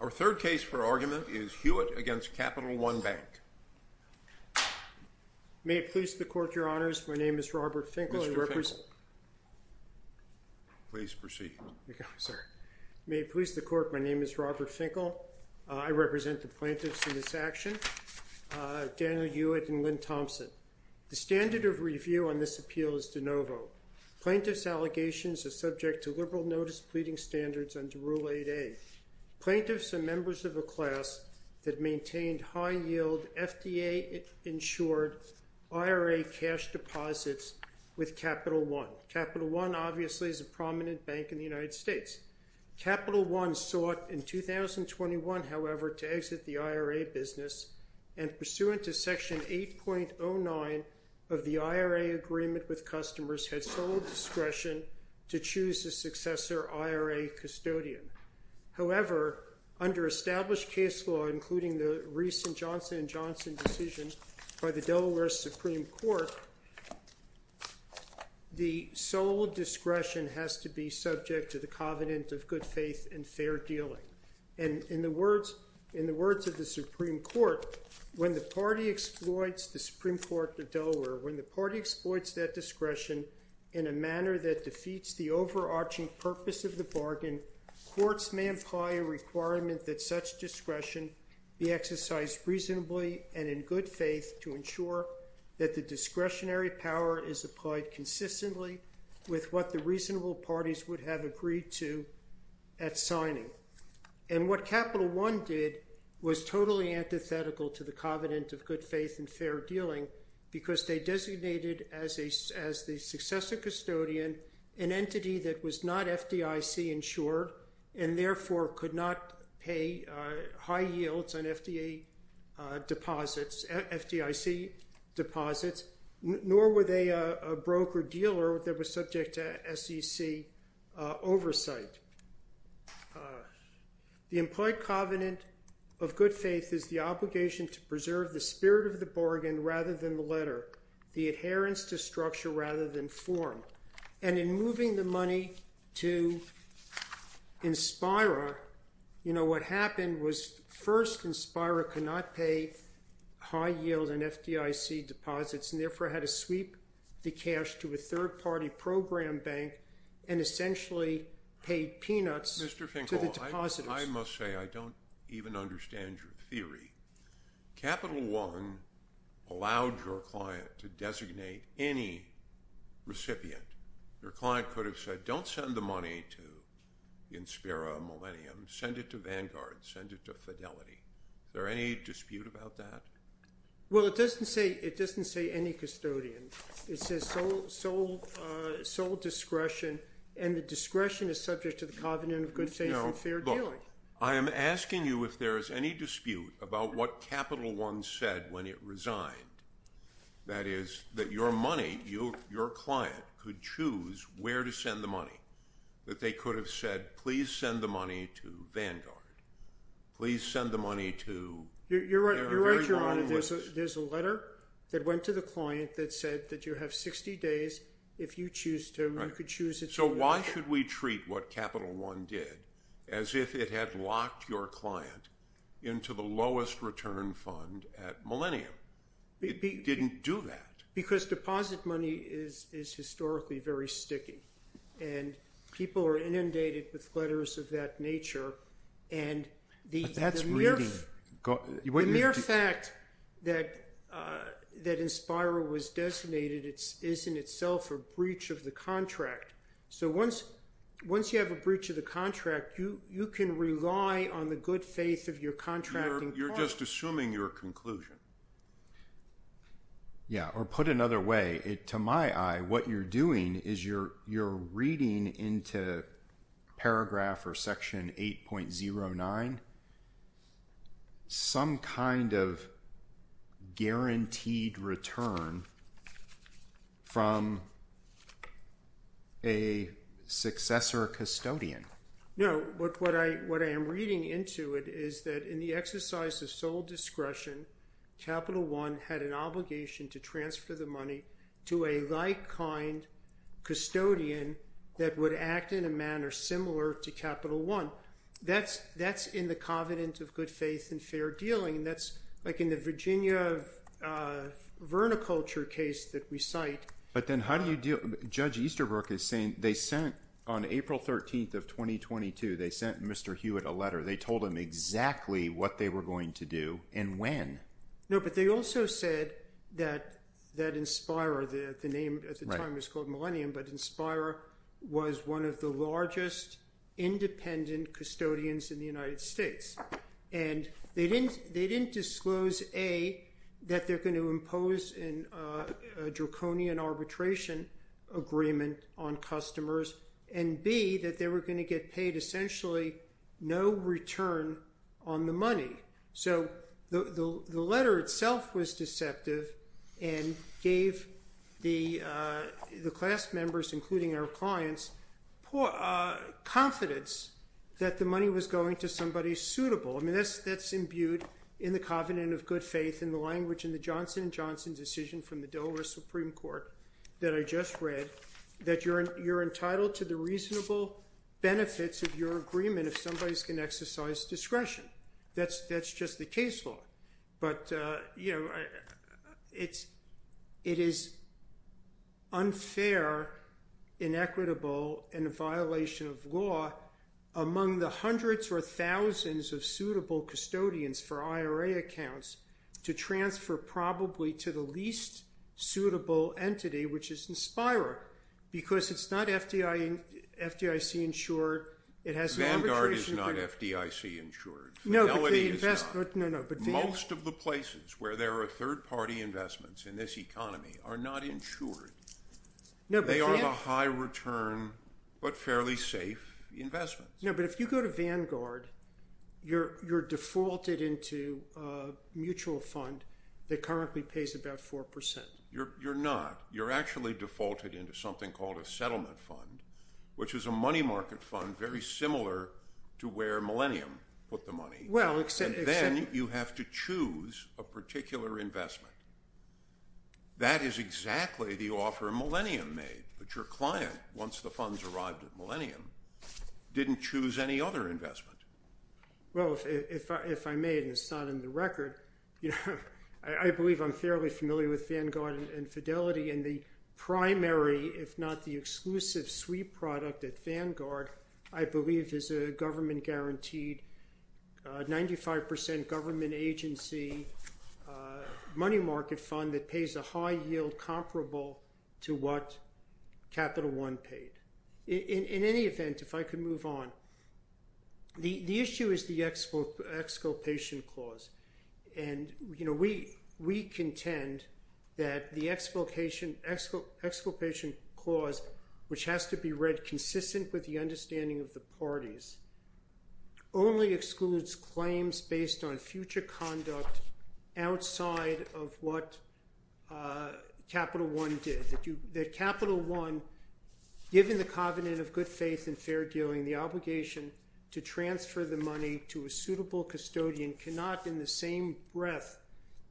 Our third case for argument is Hewitt v. Capital One Bank. May it please the Court, Your Honors. My name is Robert Finkel. Mr. Finkel, please proceed. May it please the Court. My name is Robert Finkel. I represent the plaintiffs in this action, Daniel Hewitt and Lynn Thompson. The standard of review on this appeal is de novo. Plaintiffs' allegations are subject to liberal notice pleading standards under Rule 8a. Plaintiffs are members of a class that maintained high-yield, FDA-insured IRA cash deposits with Capital One. Capital One obviously is a prominent bank in the United States. Capital One sought in 2021, however, to exit the IRA business, and pursuant to Section 8.09 of the IRA Agreement with Customers, had sole discretion to choose a successor IRA custodian. However, under established case law, including the recent Johnson & Johnson decision by the Delaware Supreme Court, the sole discretion has to be subject to the covenant of good faith and fair dealing. And in the words of the Supreme Court, when the party exploits the Supreme Court of Delaware, when the party exploits that discretion in a manner that defeats the overarching purpose of the bargain, courts may imply a requirement that such discretion be exercised reasonably and in good faith to ensure that the discretionary power is applied consistently with what the reasonable parties would have agreed to at signing. And what Capital One did was totally antithetical to the covenant of good faith and fair dealing because they designated as the successor custodian an entity that was not FDIC-insured and therefore could not pay high yields on FDIC deposits, nor were they a broker-dealer that was subject to SEC oversight. The implied covenant of good faith is the obligation to preserve the spirit of the bargain rather than the letter, the adherence to structure rather than form. And in moving the money to Inspira, you know, what happened was first Inspira could not pay high yield on FDIC deposits and therefore had to sweep the cash to a third-party program bank and essentially paid peanuts to the depositors. I must say I don't even understand your theory. Capital One allowed your client to designate any recipient. Your client could have said don't send the money to Inspira Millennium, send it to Vanguard, send it to Fidelity. Is there any dispute about that? Well, it doesn't say any custodian. It says sole discretion and the discretion is subject to the covenant of good faith and fair dealing. Look, I am asking you if there is any dispute about what Capital One said when it resigned, that is that your money, your client could choose where to send the money, that they could have said please send the money to Vanguard, please send the money to – You're right, Your Honor. There's a letter that went to the client that said that you have 60 days. If you choose to, you could choose – So why should we treat what Capital One did as if it had locked your client into the lowest return fund at Millennium? It didn't do that. Because deposit money is historically very sticky and people are inundated with letters of that nature. But that's reading. The mere fact that Inspira was designated is in itself a breach of the contract. So once you have a breach of the contract, you can rely on the good faith of your contracting partner. You're just assuming your conclusion. Yeah, or put another way, to my eye, what you're doing is you're reading into paragraph or section 8.09 some kind of guaranteed return from a successor custodian. No, but what I am reading into it is that in the exercise of sole discretion, Capital One had an obligation to transfer the money to a like-kind custodian that would act in a manner similar to Capital One. That's in the covenant of good faith and fair dealing. That's like in the Virginia verniculture case that we cite. Judge Easterbrook is saying they sent, on April 13th of 2022, they sent Mr. Hewitt a letter. They told him exactly what they were going to do and when. No, but they also said that Inspira, the name at the time was called Millennium, but Inspira was one of the largest independent custodians in the United States. They didn't disclose A, that they're going to impose a draconian arbitration agreement on customers, and B, that they were going to get paid essentially no return on the money. So the letter itself was deceptive and gave the class members, including our clients, confidence that the money was going to somebody suitable. I mean, that's imbued in the covenant of good faith in the language in the Johnson & Johnson decision from the Delaware Supreme Court that I just read that you're entitled to the reasonable benefits of your agreement if somebody's going to exercise discretion. That's just the case law. But, you know, it is unfair, inequitable, and a violation of law among the hundreds or thousands of suitable custodians for IRA accounts to transfer probably to the least suitable entity, which is Inspira, because it's not FDIC-insured. Vanguard is not FDIC-insured. Most of the places where there are third-party investments in this economy are not insured. They are the high-return but fairly safe investments. No, but if you go to Vanguard, you're defaulted into a mutual fund that currently pays about 4%. You're not. You're actually defaulted into something called a settlement fund, which is a money market fund very similar to where Millennium put the money. And then you have to choose a particular investment. That is exactly the offer Millennium made. But your client, once the funds arrived at Millennium, didn't choose any other investment. Well, if I made, and it's not in the record, I believe I'm fairly familiar with Vanguard and Fidelity and the primary, if not the exclusive, sweet product at Vanguard, I believe is a government-guaranteed 95% government agency money market fund that pays a high yield comparable to what Capital One paid. In any event, if I could move on, the issue is the exculpation clause. We contend that the exculpation clause, which has to be read consistent with the understanding of the parties, only excludes claims based on future conduct outside of what Capital One did. That Capital One, given the covenant of good faith and fair dealing, the obligation to transfer the money to a suitable custodian, cannot in the same breath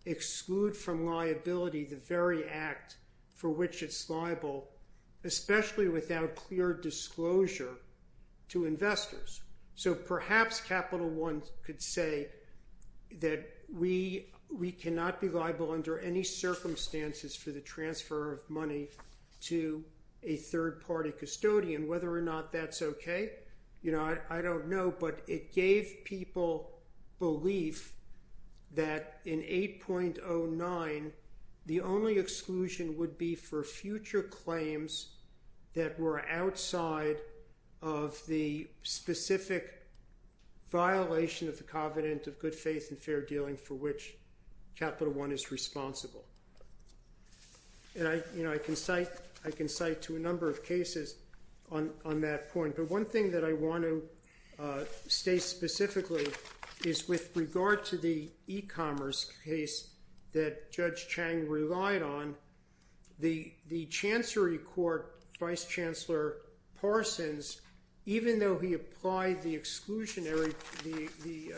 exclude from liability the very act for which it's liable, especially without clear disclosure to investors. So perhaps Capital One could say that we cannot be liable under any circumstances for the transfer of money to a third-party custodian. Whether or not that's okay, I don't know. But it gave people belief that in 8.09, the only exclusion would be for future claims that were outside of the specific violation of the covenant of good faith and fair dealing for which Capital One is responsible. And I can cite to a number of cases on that point. But one thing that I want to state specifically is with regard to the e-commerce case that Judge Chang relied on, the Chancery Court Vice Chancellor Parsons, even though he applied the exclusionary, the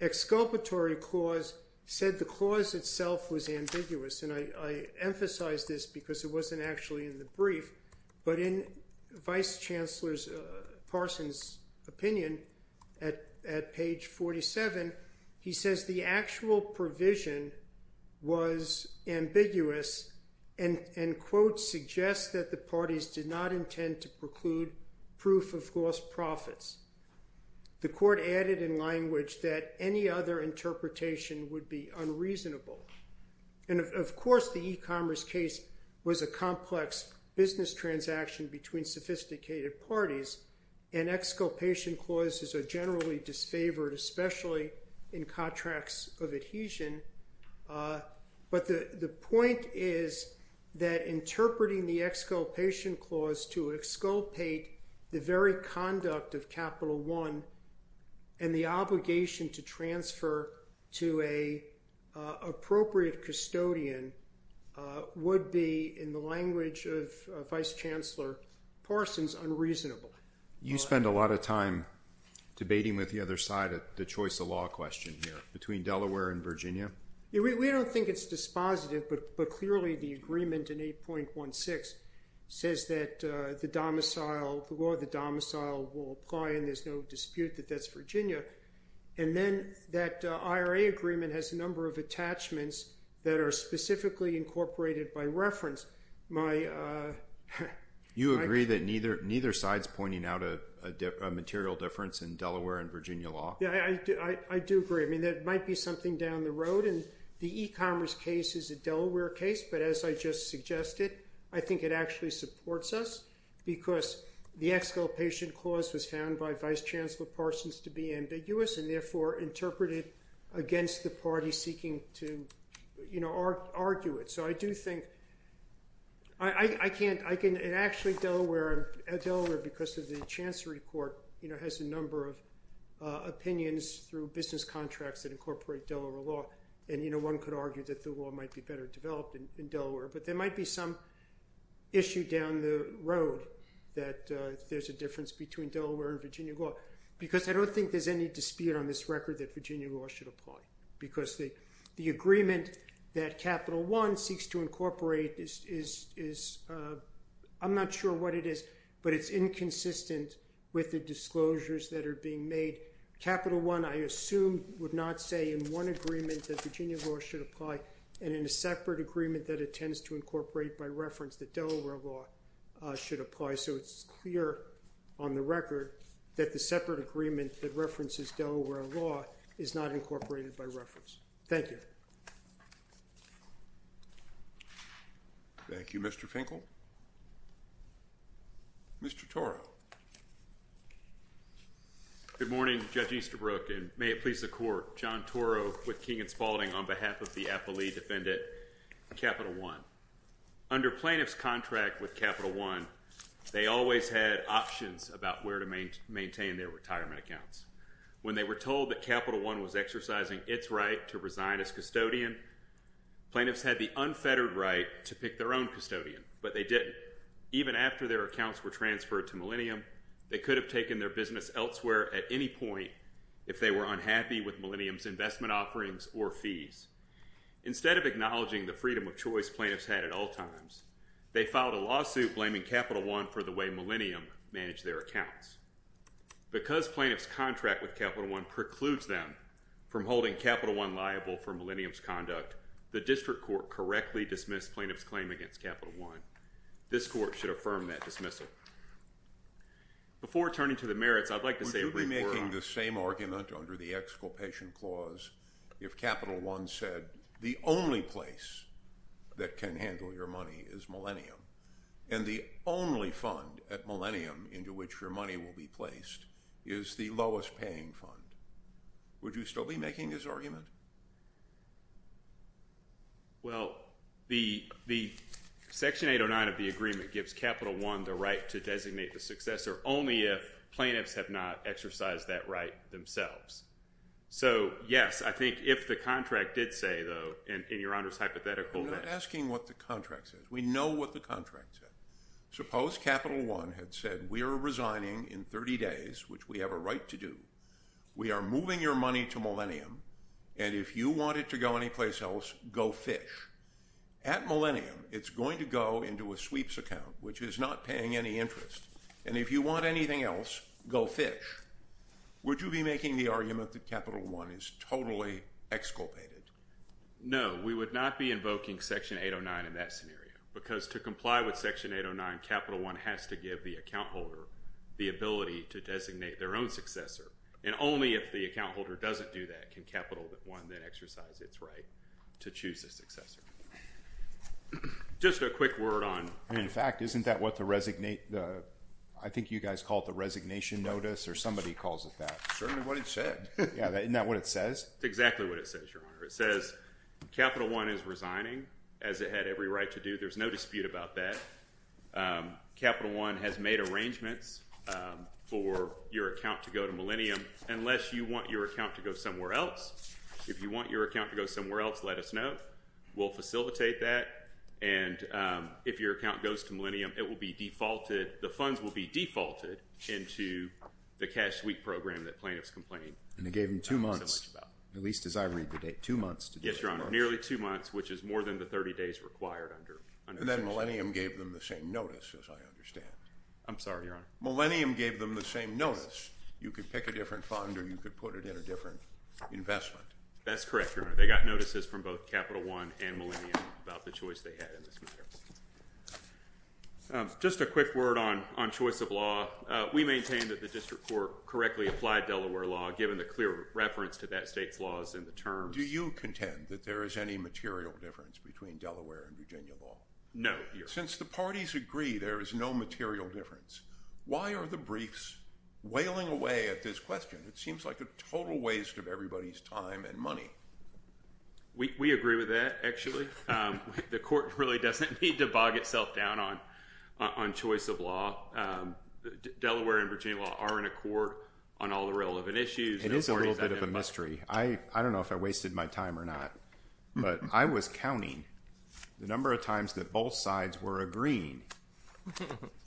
exculpatory clause said the clause itself was ambiguous. And I emphasize this because it wasn't actually in the brief. But in Vice Chancellor Parsons' opinion at page 47, he says the actual provision was ambiguous and, quote, suggests that the parties did not intend to preclude proof of gross profits. The court added in language that any other interpretation would be unreasonable. And, of course, the e-commerce case was a complex business transaction between sophisticated parties, and exculpation clauses are generally disfavored, especially in contracts of adhesion. But the point is that interpreting the exculpation clause to exculpate the very conduct of Capital One and the obligation to transfer to an appropriate custodian would be, in the language of Vice Chancellor Parsons, unreasonable. You spend a lot of time debating with the other side the choice of law question here between Delaware and Virginia. We don't think it's dispositive, but clearly the agreement in 8.16 says that the law of the domicile will apply and there's no dispute that that's Virginia. And then that IRA agreement has a number of attachments that are specifically incorporated by reference. You agree that neither side's pointing out a material difference in Delaware and Virginia law? Yeah, I do agree. I mean, there might be something down the road, and the e-commerce case is a Delaware case, but as I just suggested, I think it actually supports us because the exculpation clause was found by Vice Chancellor Parsons to be ambiguous and, therefore, interpreted against the party seeking to argue it. Actually, Delaware, because of the Chancery Court, has a number of opinions through business contracts that incorporate Delaware law. And one could argue that the law might be better developed in Delaware, but there might be some issue down the road that there's a difference between Delaware and Virginia law because I don't think there's any dispute on this record that Virginia law should apply because the agreement that Capital One seeks to incorporate is, I'm not sure what it is, but it's inconsistent with the disclosures that are being made. Capital One, I assume, would not say in one agreement that Virginia law should apply and in a separate agreement that it tends to incorporate by reference that Delaware law should apply. So it's clear on the record that the separate agreement that references Delaware law is not incorporated by reference. Thank you. Thank you, Mr. Finkel. Mr. Toro. Good morning, Judge Easterbrook, and may it please the Court. John Toro with King & Spalding on behalf of the appellee defendant Capital One. Under plaintiff's contract with Capital One, they always had options about where to maintain their retirement accounts. When they were told that Capital One was exercising its right to resign as custodian, plaintiffs had the unfettered right to pick their own custodian, but they didn't. Even after their accounts were transferred to Millennium, they could have taken their business elsewhere at any point if they were unhappy with Millennium's investment offerings or fees. Instead of acknowledging the freedom of choice plaintiffs had at all times, they filed a lawsuit blaming Capital One for the way Millennium managed their accounts. Because plaintiff's contract with Capital One precludes them from holding Capital One liable for Millennium's conduct, the district court correctly dismissed plaintiff's claim against Capital One. This court should affirm that dismissal. Before turning to the merits, I'd like to say a brief word on… You said the only place that can handle your money is Millennium, and the only fund at Millennium into which your money will be placed is the lowest paying fund. Would you still be making this argument? Well, the Section 809 of the agreement gives Capital One the right to designate the successor only if plaintiffs have not exercised that right themselves. So, yes, I think if the contract did say, though, in your Honor's hypothetical… We're not asking what the contract says. We know what the contract said. Suppose Capital One had said, we are resigning in 30 days, which we have a right to do. We are moving your money to Millennium, and if you want it to go anyplace else, go fish. At Millennium, it's going to go into a sweeps account, which is not paying any interest. And if you want anything else, go fish. Would you be making the argument that Capital One is totally exculpated? No, we would not be invoking Section 809 in that scenario, because to comply with Section 809, Capital One has to give the account holder the ability to designate their own successor, and only if the account holder doesn't do that can Capital One then exercise its right to choose a successor. Just a quick word on… I mean, in fact, isn't that what the resignation… I think you guys call it the resignation notice, or somebody calls it that. Certainly what it said. Yeah, isn't that what it says? That's exactly what it says, Your Honor. It says Capital One is resigning, as it had every right to do. There's no dispute about that. Capital One has made arrangements for your account to go to Millennium. Unless you want your account to go somewhere else, if you want your account to go somewhere else, let us know. We'll facilitate that, and if your account goes to Millennium, it will be defaulted. The funds will be defaulted into the cash sweep program that plaintiffs complained so much about. And it gave them two months, at least as I read the date, two months to do that. Yes, Your Honor, nearly two months, which is more than the 30 days required under… And then Millennium gave them the same notice, as I understand. I'm sorry, Your Honor. Millennium gave them the same notice. You could pick a different fund, or you could put it in a different investment. That's correct, Your Honor. They got notices from both Capital One and Millennium about the choice they had in this matter. Just a quick word on choice of law. We maintain that the district court correctly applied Delaware law, given the clear reference to that state's laws in the terms… Do you contend that there is any material difference between Delaware and Virginia law? No, Your Honor. Since the parties agree there is no material difference, why are the briefs wailing away at this question? It seems like a total waste of everybody's time and money. We agree with that, actually. The court really doesn't need to bog itself down on choice of law. Delaware and Virginia law are in accord on all the relevant issues. It is a little bit of a mystery. I don't know if I wasted my time or not, but I was counting the number of times that both sides were agreeing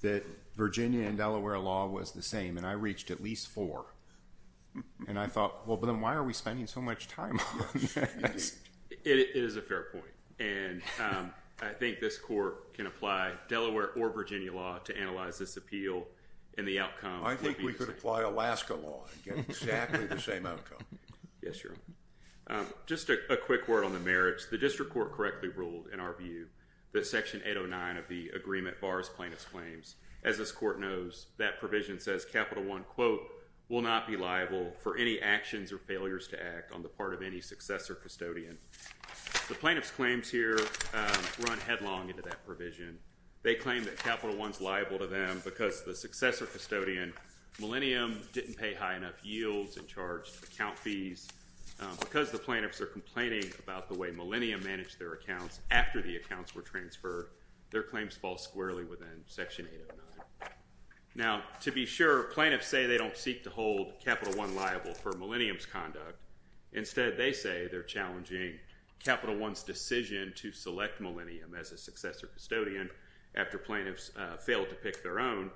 that Virginia and Delaware law was the same, and I reached at least four. And I thought, well, then why are we spending so much time on that? It is a fair point. And I think this court can apply Delaware or Virginia law to analyze this appeal and the outcome. I think we could apply Alaska law and get exactly the same outcome. Yes, Your Honor. Just a quick word on the merits. The district court correctly ruled, in our view, that Section 809 of the agreement bars plaintiff's claims. As this court knows, that provision says Capital I, quote, will not be liable for any actions or failures to act on the part of any successor custodian. The plaintiff's claims here run headlong into that provision. They claim that Capital I is liable to them because the successor custodian, Millennium, didn't pay high enough yields and charged account fees. Because the plaintiffs are complaining about the way Millennium managed their accounts after the accounts were transferred, their claims fall squarely within Section 809. Now, to be sure, plaintiffs say they don't seek to hold Capital I liable for Millennium's conduct. Instead, they say they're challenging Capital I's decision to select Millennium as a successor custodian after plaintiffs failed to pick their own.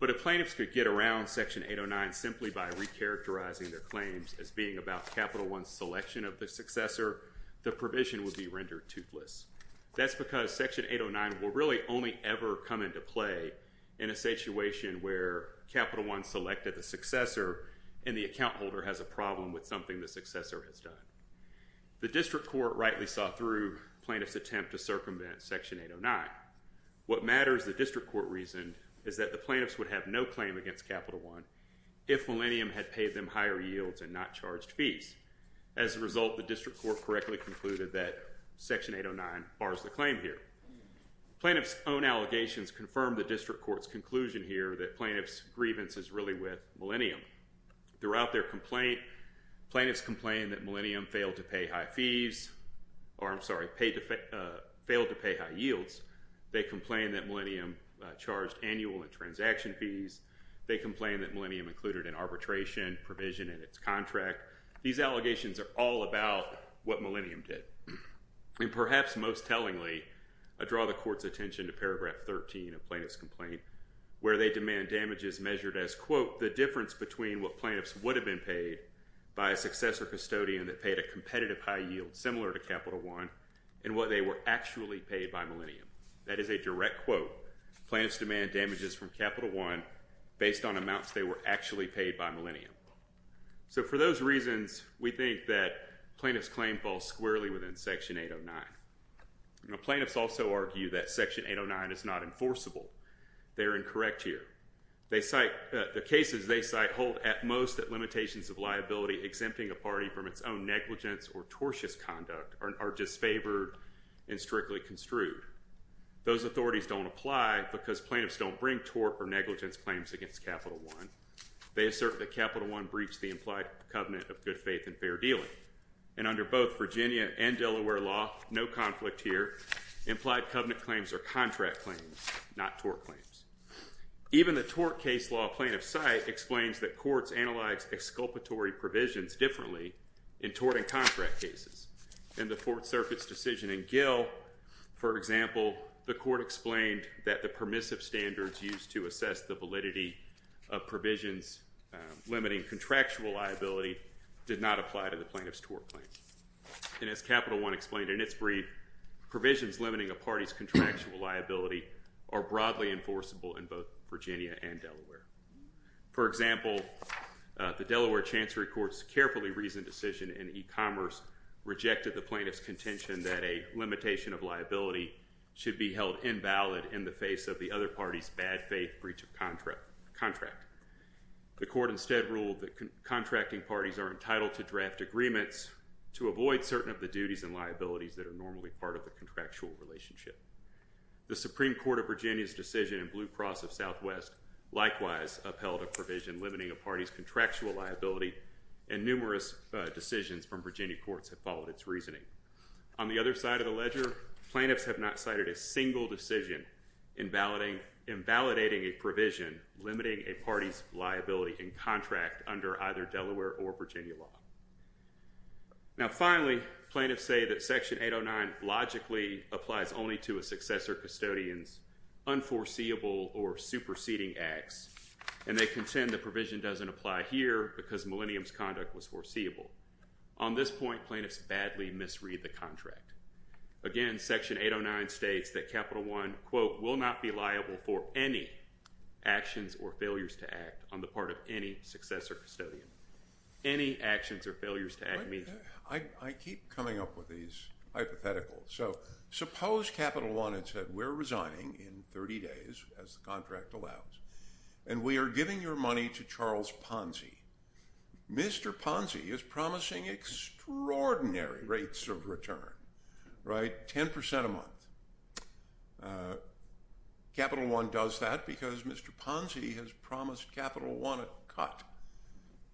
But if plaintiffs could get around Section 809 simply by recharacterizing their claims as being about Capital I's selection of the successor, the provision would be rendered toothless. That's because Section 809 will really only ever come into play in a situation where Capital I selected the successor and the account holder has a problem with something the successor has done. The district court rightly saw through plaintiff's attempt to circumvent Section 809. What matters, the district court reasoned, is that the plaintiffs would have no claim against Capital I if Millennium had paid them higher yields and not charged fees. As a result, the district court correctly concluded that Section 809 bars the claim here. Plaintiffs' own allegations confirm the district court's conclusion here that plaintiffs' grievance is really with Millennium. Throughout their complaint, plaintiffs complained that Millennium failed to pay high yields. They complained that Millennium charged annual and transaction fees. They complained that Millennium included an arbitration provision in its contract. These allegations are all about what Millennium did. Perhaps most tellingly, I draw the court's attention to paragraph 13 of plaintiff's complaint where they demand damages measured as, quote, the difference between what plaintiffs would have been paid by a successor custodian that paid a competitive high yield similar to Capital I and what they were actually paid by Millennium. That is a direct quote. Plaintiffs demand damages from Capital I based on amounts they were actually paid by Millennium. So for those reasons, we think that plaintiff's claim falls squarely within Section 809. Plaintiffs also argue that Section 809 is not enforceable. They are incorrect here. The cases they cite hold at most that limitations of liability exempting a party from its own negligence or tortious conduct are disfavored and strictly construed. Those authorities don't apply because plaintiffs don't bring tort or negligence claims against Capital I. They assert that Capital I breached the implied covenant of good faith and fair dealing. And under both Virginia and Delaware law, no conflict here, implied covenant claims are contract claims, not tort claims. Even the tort case law plaintiff's cite explains that courts analyze exculpatory provisions differently in tort and contract cases. In the Fourth Circuit's decision in Gill, for example, the court explained that the permissive standards used to assess the validity of provisions limiting contractual liability did not apply to the plaintiff's tort claim. And as Capital I explained in its brief, provisions limiting a party's contractual liability are broadly enforceable in both Virginia and Delaware. For example, the Delaware Chancery Court's carefully reasoned decision in e-commerce rejected the plaintiff's contention that a limitation of liability should be held invalid in the face of the other party's bad faith breach of contract. The court instead ruled that contracting parties are entitled to draft agreements to avoid certain of the duties and liabilities that are normally part of the contractual relationship. The Supreme Court of Virginia's decision in Blue Cross of Southwest likewise upheld a provision limiting a party's contractual liability, and numerous decisions from Virginia courts have followed its reasoning. On the other side of the ledger, plaintiffs have not cited a single decision invalidating a provision limiting a party's liability in contract under either Delaware or Virginia law. Now finally, plaintiffs say that Section 809 logically applies only to a successor custodian's unforeseeable or superseding acts, and they contend the provision doesn't apply here because Millennium's conduct was foreseeable. On this point, plaintiffs badly misread the contract. Again, Section 809 states that Capital I, quote, will not be liable for any actions or failures to act on the part of any successor custodian. Any actions or failures to act means? I keep coming up with these hypotheticals. So suppose Capital I had said we're resigning in 30 days, as the contract allows, and we are giving your money to Charles Ponzi. Mr. Ponzi is promising extraordinary rates of return, right, 10% a month. Capital I does that because Mr. Ponzi has promised Capital I a cut.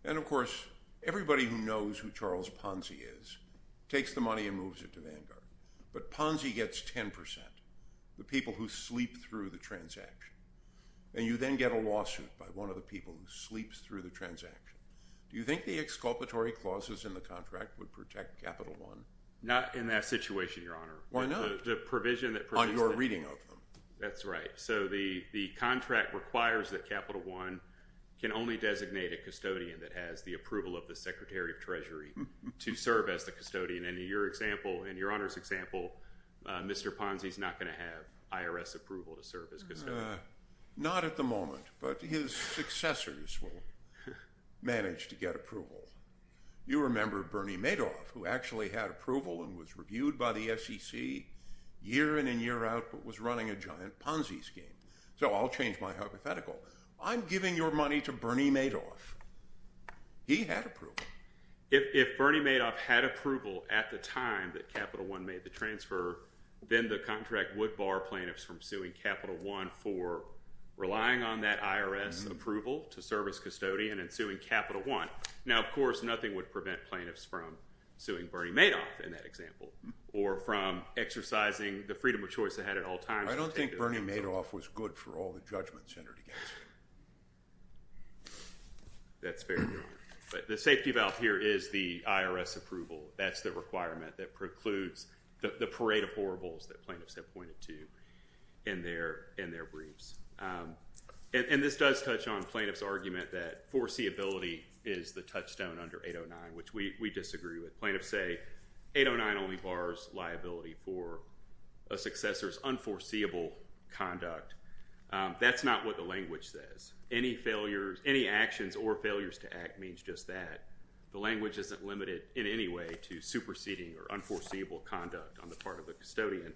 And of course, everybody who knows who Charles Ponzi is takes the money and moves it to Vanguard, but Ponzi gets 10%, the people who sleep through the transaction. And you then get a lawsuit by one of the people who sleeps through the transaction. Do you think the exculpatory clauses in the contract would protect Capital I? Not in that situation, Your Honor. Why not? On your reading of them. That's right. So the contract requires that Capital I can only designate a custodian that has the approval of the Secretary of Treasury to serve as the custodian. And in your example, in Your Honor's example, Mr. Ponzi is not going to have IRS approval to serve as custodian. Not at the moment, but his successors will manage to get approval. You remember Bernie Madoff, who actually had approval and was reviewed by the SEC year in and year out, but was running a giant Ponzi scheme. So I'll change my hypothetical. I'm giving your money to Bernie Madoff. He had approval. If Bernie Madoff had approval at the time that Capital I made the transfer, then the contract would bar plaintiffs from suing Capital I for relying on that IRS approval to serve as custodian and suing Capital I. Now, of course, nothing would prevent plaintiffs from suing Bernie Madoff in that example or from exercising the freedom of choice they had at all times. I don't think Bernie Madoff was good for all the judgments entered against him. That's fair, Your Honor. But the safety valve here is the IRS approval. That's the requirement that precludes the parade of horribles that plaintiffs have pointed to in their briefs. And this does touch on plaintiffs' argument that foreseeability is the touchstone under 809, which we disagree with. Plaintiffs say 809 only bars liability for a successor's unforeseeable conduct. That's not what the language says. Any actions or failures to act means just that. The language isn't limited in any way to superseding or unforeseeable conduct on the part of the custodian.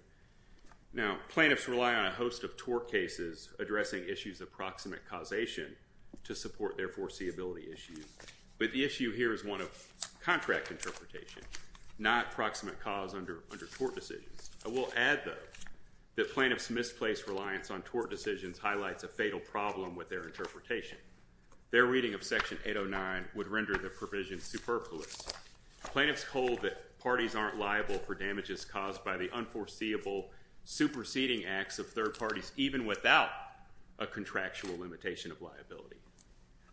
Now, plaintiffs rely on a host of tort cases addressing issues of proximate causation to support their foreseeability issues. But the issue here is one of contract interpretation, not proximate cause under tort decisions. I will add, though, that plaintiffs' misplaced reliance on tort decisions highlights a fatal problem with their interpretation. Their reading of Section 809 would render the provision superfluous. Plaintiffs hold that parties aren't liable for damages caused by the unforeseeable superseding acts of third parties, even without a contractual limitation of liability.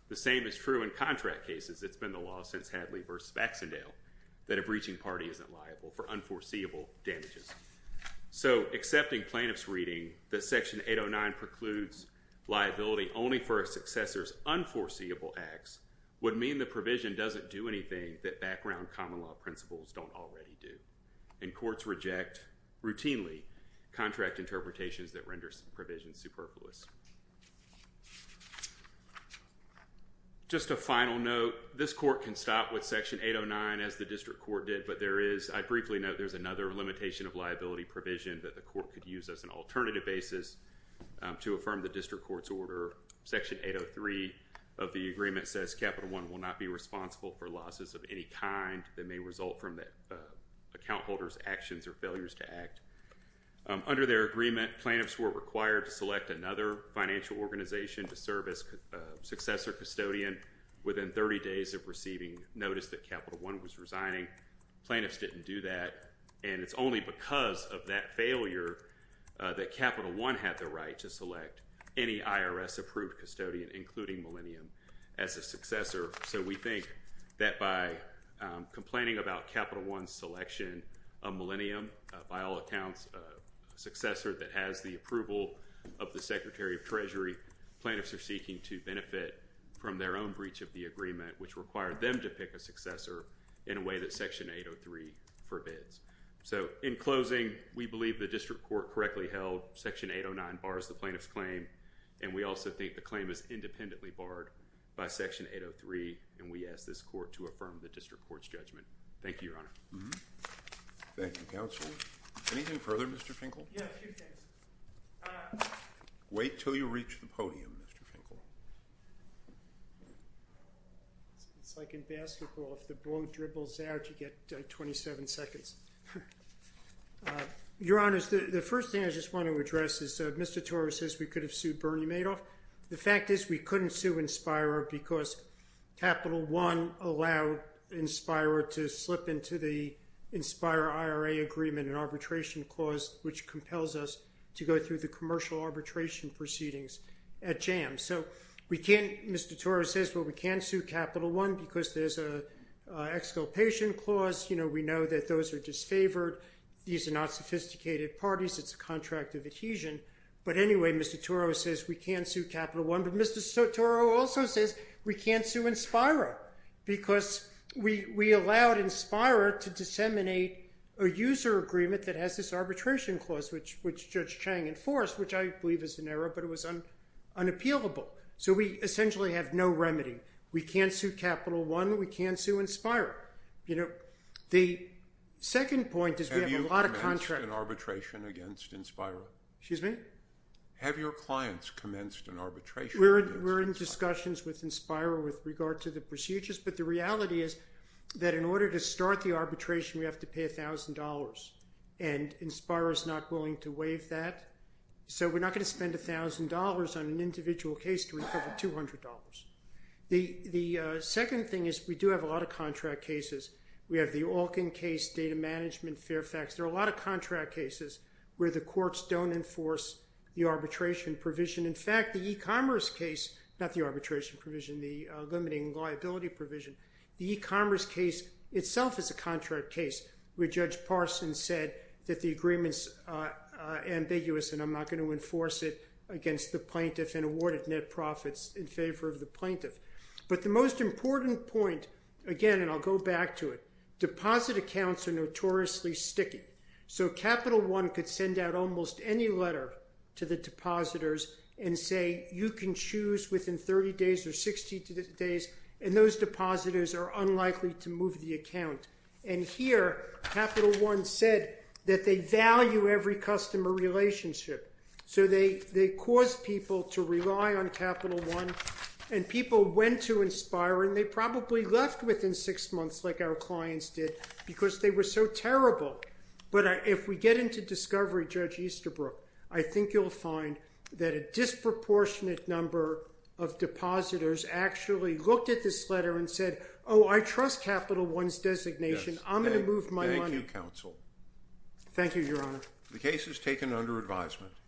The same is true in contract cases. It's been the law since Hadley v. Baxendale that a breaching party isn't liable for unforeseeable damages. So accepting plaintiffs' reading that Section 809 precludes liability only for a successor's unforeseeable acts would mean the provision doesn't do anything that background common law principles don't already do. And courts reject, routinely, contract interpretations that render provisions superfluous. Just a final note, this court can stop with Section 809 as the district court did, but I briefly note there's another limitation of liability provision that the court could use as an alternative basis to affirm the district court's order. Section 803 of the agreement says Capital I will not be responsible for losses of any kind that may result from the account holder's actions or failures to act. Under their agreement, plaintiffs were required to select another financial organization to serve as successor custodian within 30 days of receiving notice that Capital I was resigning. Plaintiffs didn't do that, and it's only because of that failure that Capital I had the right to select any IRS-approved custodian, including Millennium, as a successor. So we think that by complaining about Capital I's selection of Millennium, by all accounts a successor that has the approval of the Secretary of Treasury, plaintiffs are seeking to benefit from their own breach of the agreement, which required them to pick a successor in a way that Section 803 forbids. So in closing, we believe the district court correctly held Section 809 bars the plaintiff's claim, and we also think the claim is independently barred by Section 803, and we ask this court to affirm the district court's judgment. Thank you, Your Honor. Thank you, counsel. Anything further, Mr. Finkel? Yeah, a few things. Wait until you reach the podium, Mr. Finkel. It's like in basketball. If the ball dribbles out, you get 27 seconds. Your Honor, the first thing I just want to address is Mr. Torrey says we could have sued Bernie Madoff. The fact is we couldn't sue Inspira because Capital I allowed Inspira to slip into the Inspira IRA agreement, an arbitration clause which compels us to go through the commercial arbitration proceedings at JAMS. So we can't, Mr. Torrey says, well, we can't sue Capital I because there's an exculpation clause. You know, we know that those are disfavored. These are not sophisticated parties. It's a contract of adhesion. But anyway, Mr. Torrey says we can't sue Capital I, but Mr. Torrey also says we can't sue Inspira because we allowed Inspira to disseminate a user agreement that has this arbitration clause, which Judge Chang enforced, which I believe is an error, but it was unappealable. So we essentially have no remedy. We can't sue Capital I. We can't sue Inspira. You know, the second point is we have a lot of contract— Have you commenced an arbitration against Inspira? Excuse me? Have your clients commenced an arbitration against Inspira? We're in discussions with Inspira with regard to the procedures, but the reality is that in order to start the arbitration, we have to pay $1,000, and Inspira is not willing to waive that. So we're not going to spend $1,000 on an individual case to recover $200. The second thing is we do have a lot of contract cases. We have the Alkin case, data management, Fairfax. There are a lot of contract cases where the courts don't enforce the arbitration provision. In fact, the e-commerce case, not the arbitration provision, the limiting liability provision, the e-commerce case itself is a contract case where Judge Parson said that the agreement's ambiguous and I'm not going to enforce it against the plaintiff and awarded net profits in favor of the plaintiff. But the most important point, again, and I'll go back to it, deposit accounts are notoriously sticky. So Capital One could send out almost any letter to the depositors and say you can choose within 30 days or 60 days and those depositors are unlikely to move the account. And here Capital One said that they value every customer relationship. So they cause people to rely on Capital One and people went to Inspira and they probably left within six months like our clients did because they were so terrible. But if we get into discovery, Judge Easterbrook, I think you'll find that a disproportionate number of depositors actually looked at this letter and said, oh, I trust Capital One's designation, I'm going to move my money. Thank you, counsel. Thank you, Your Honor. The case is taken under advisement.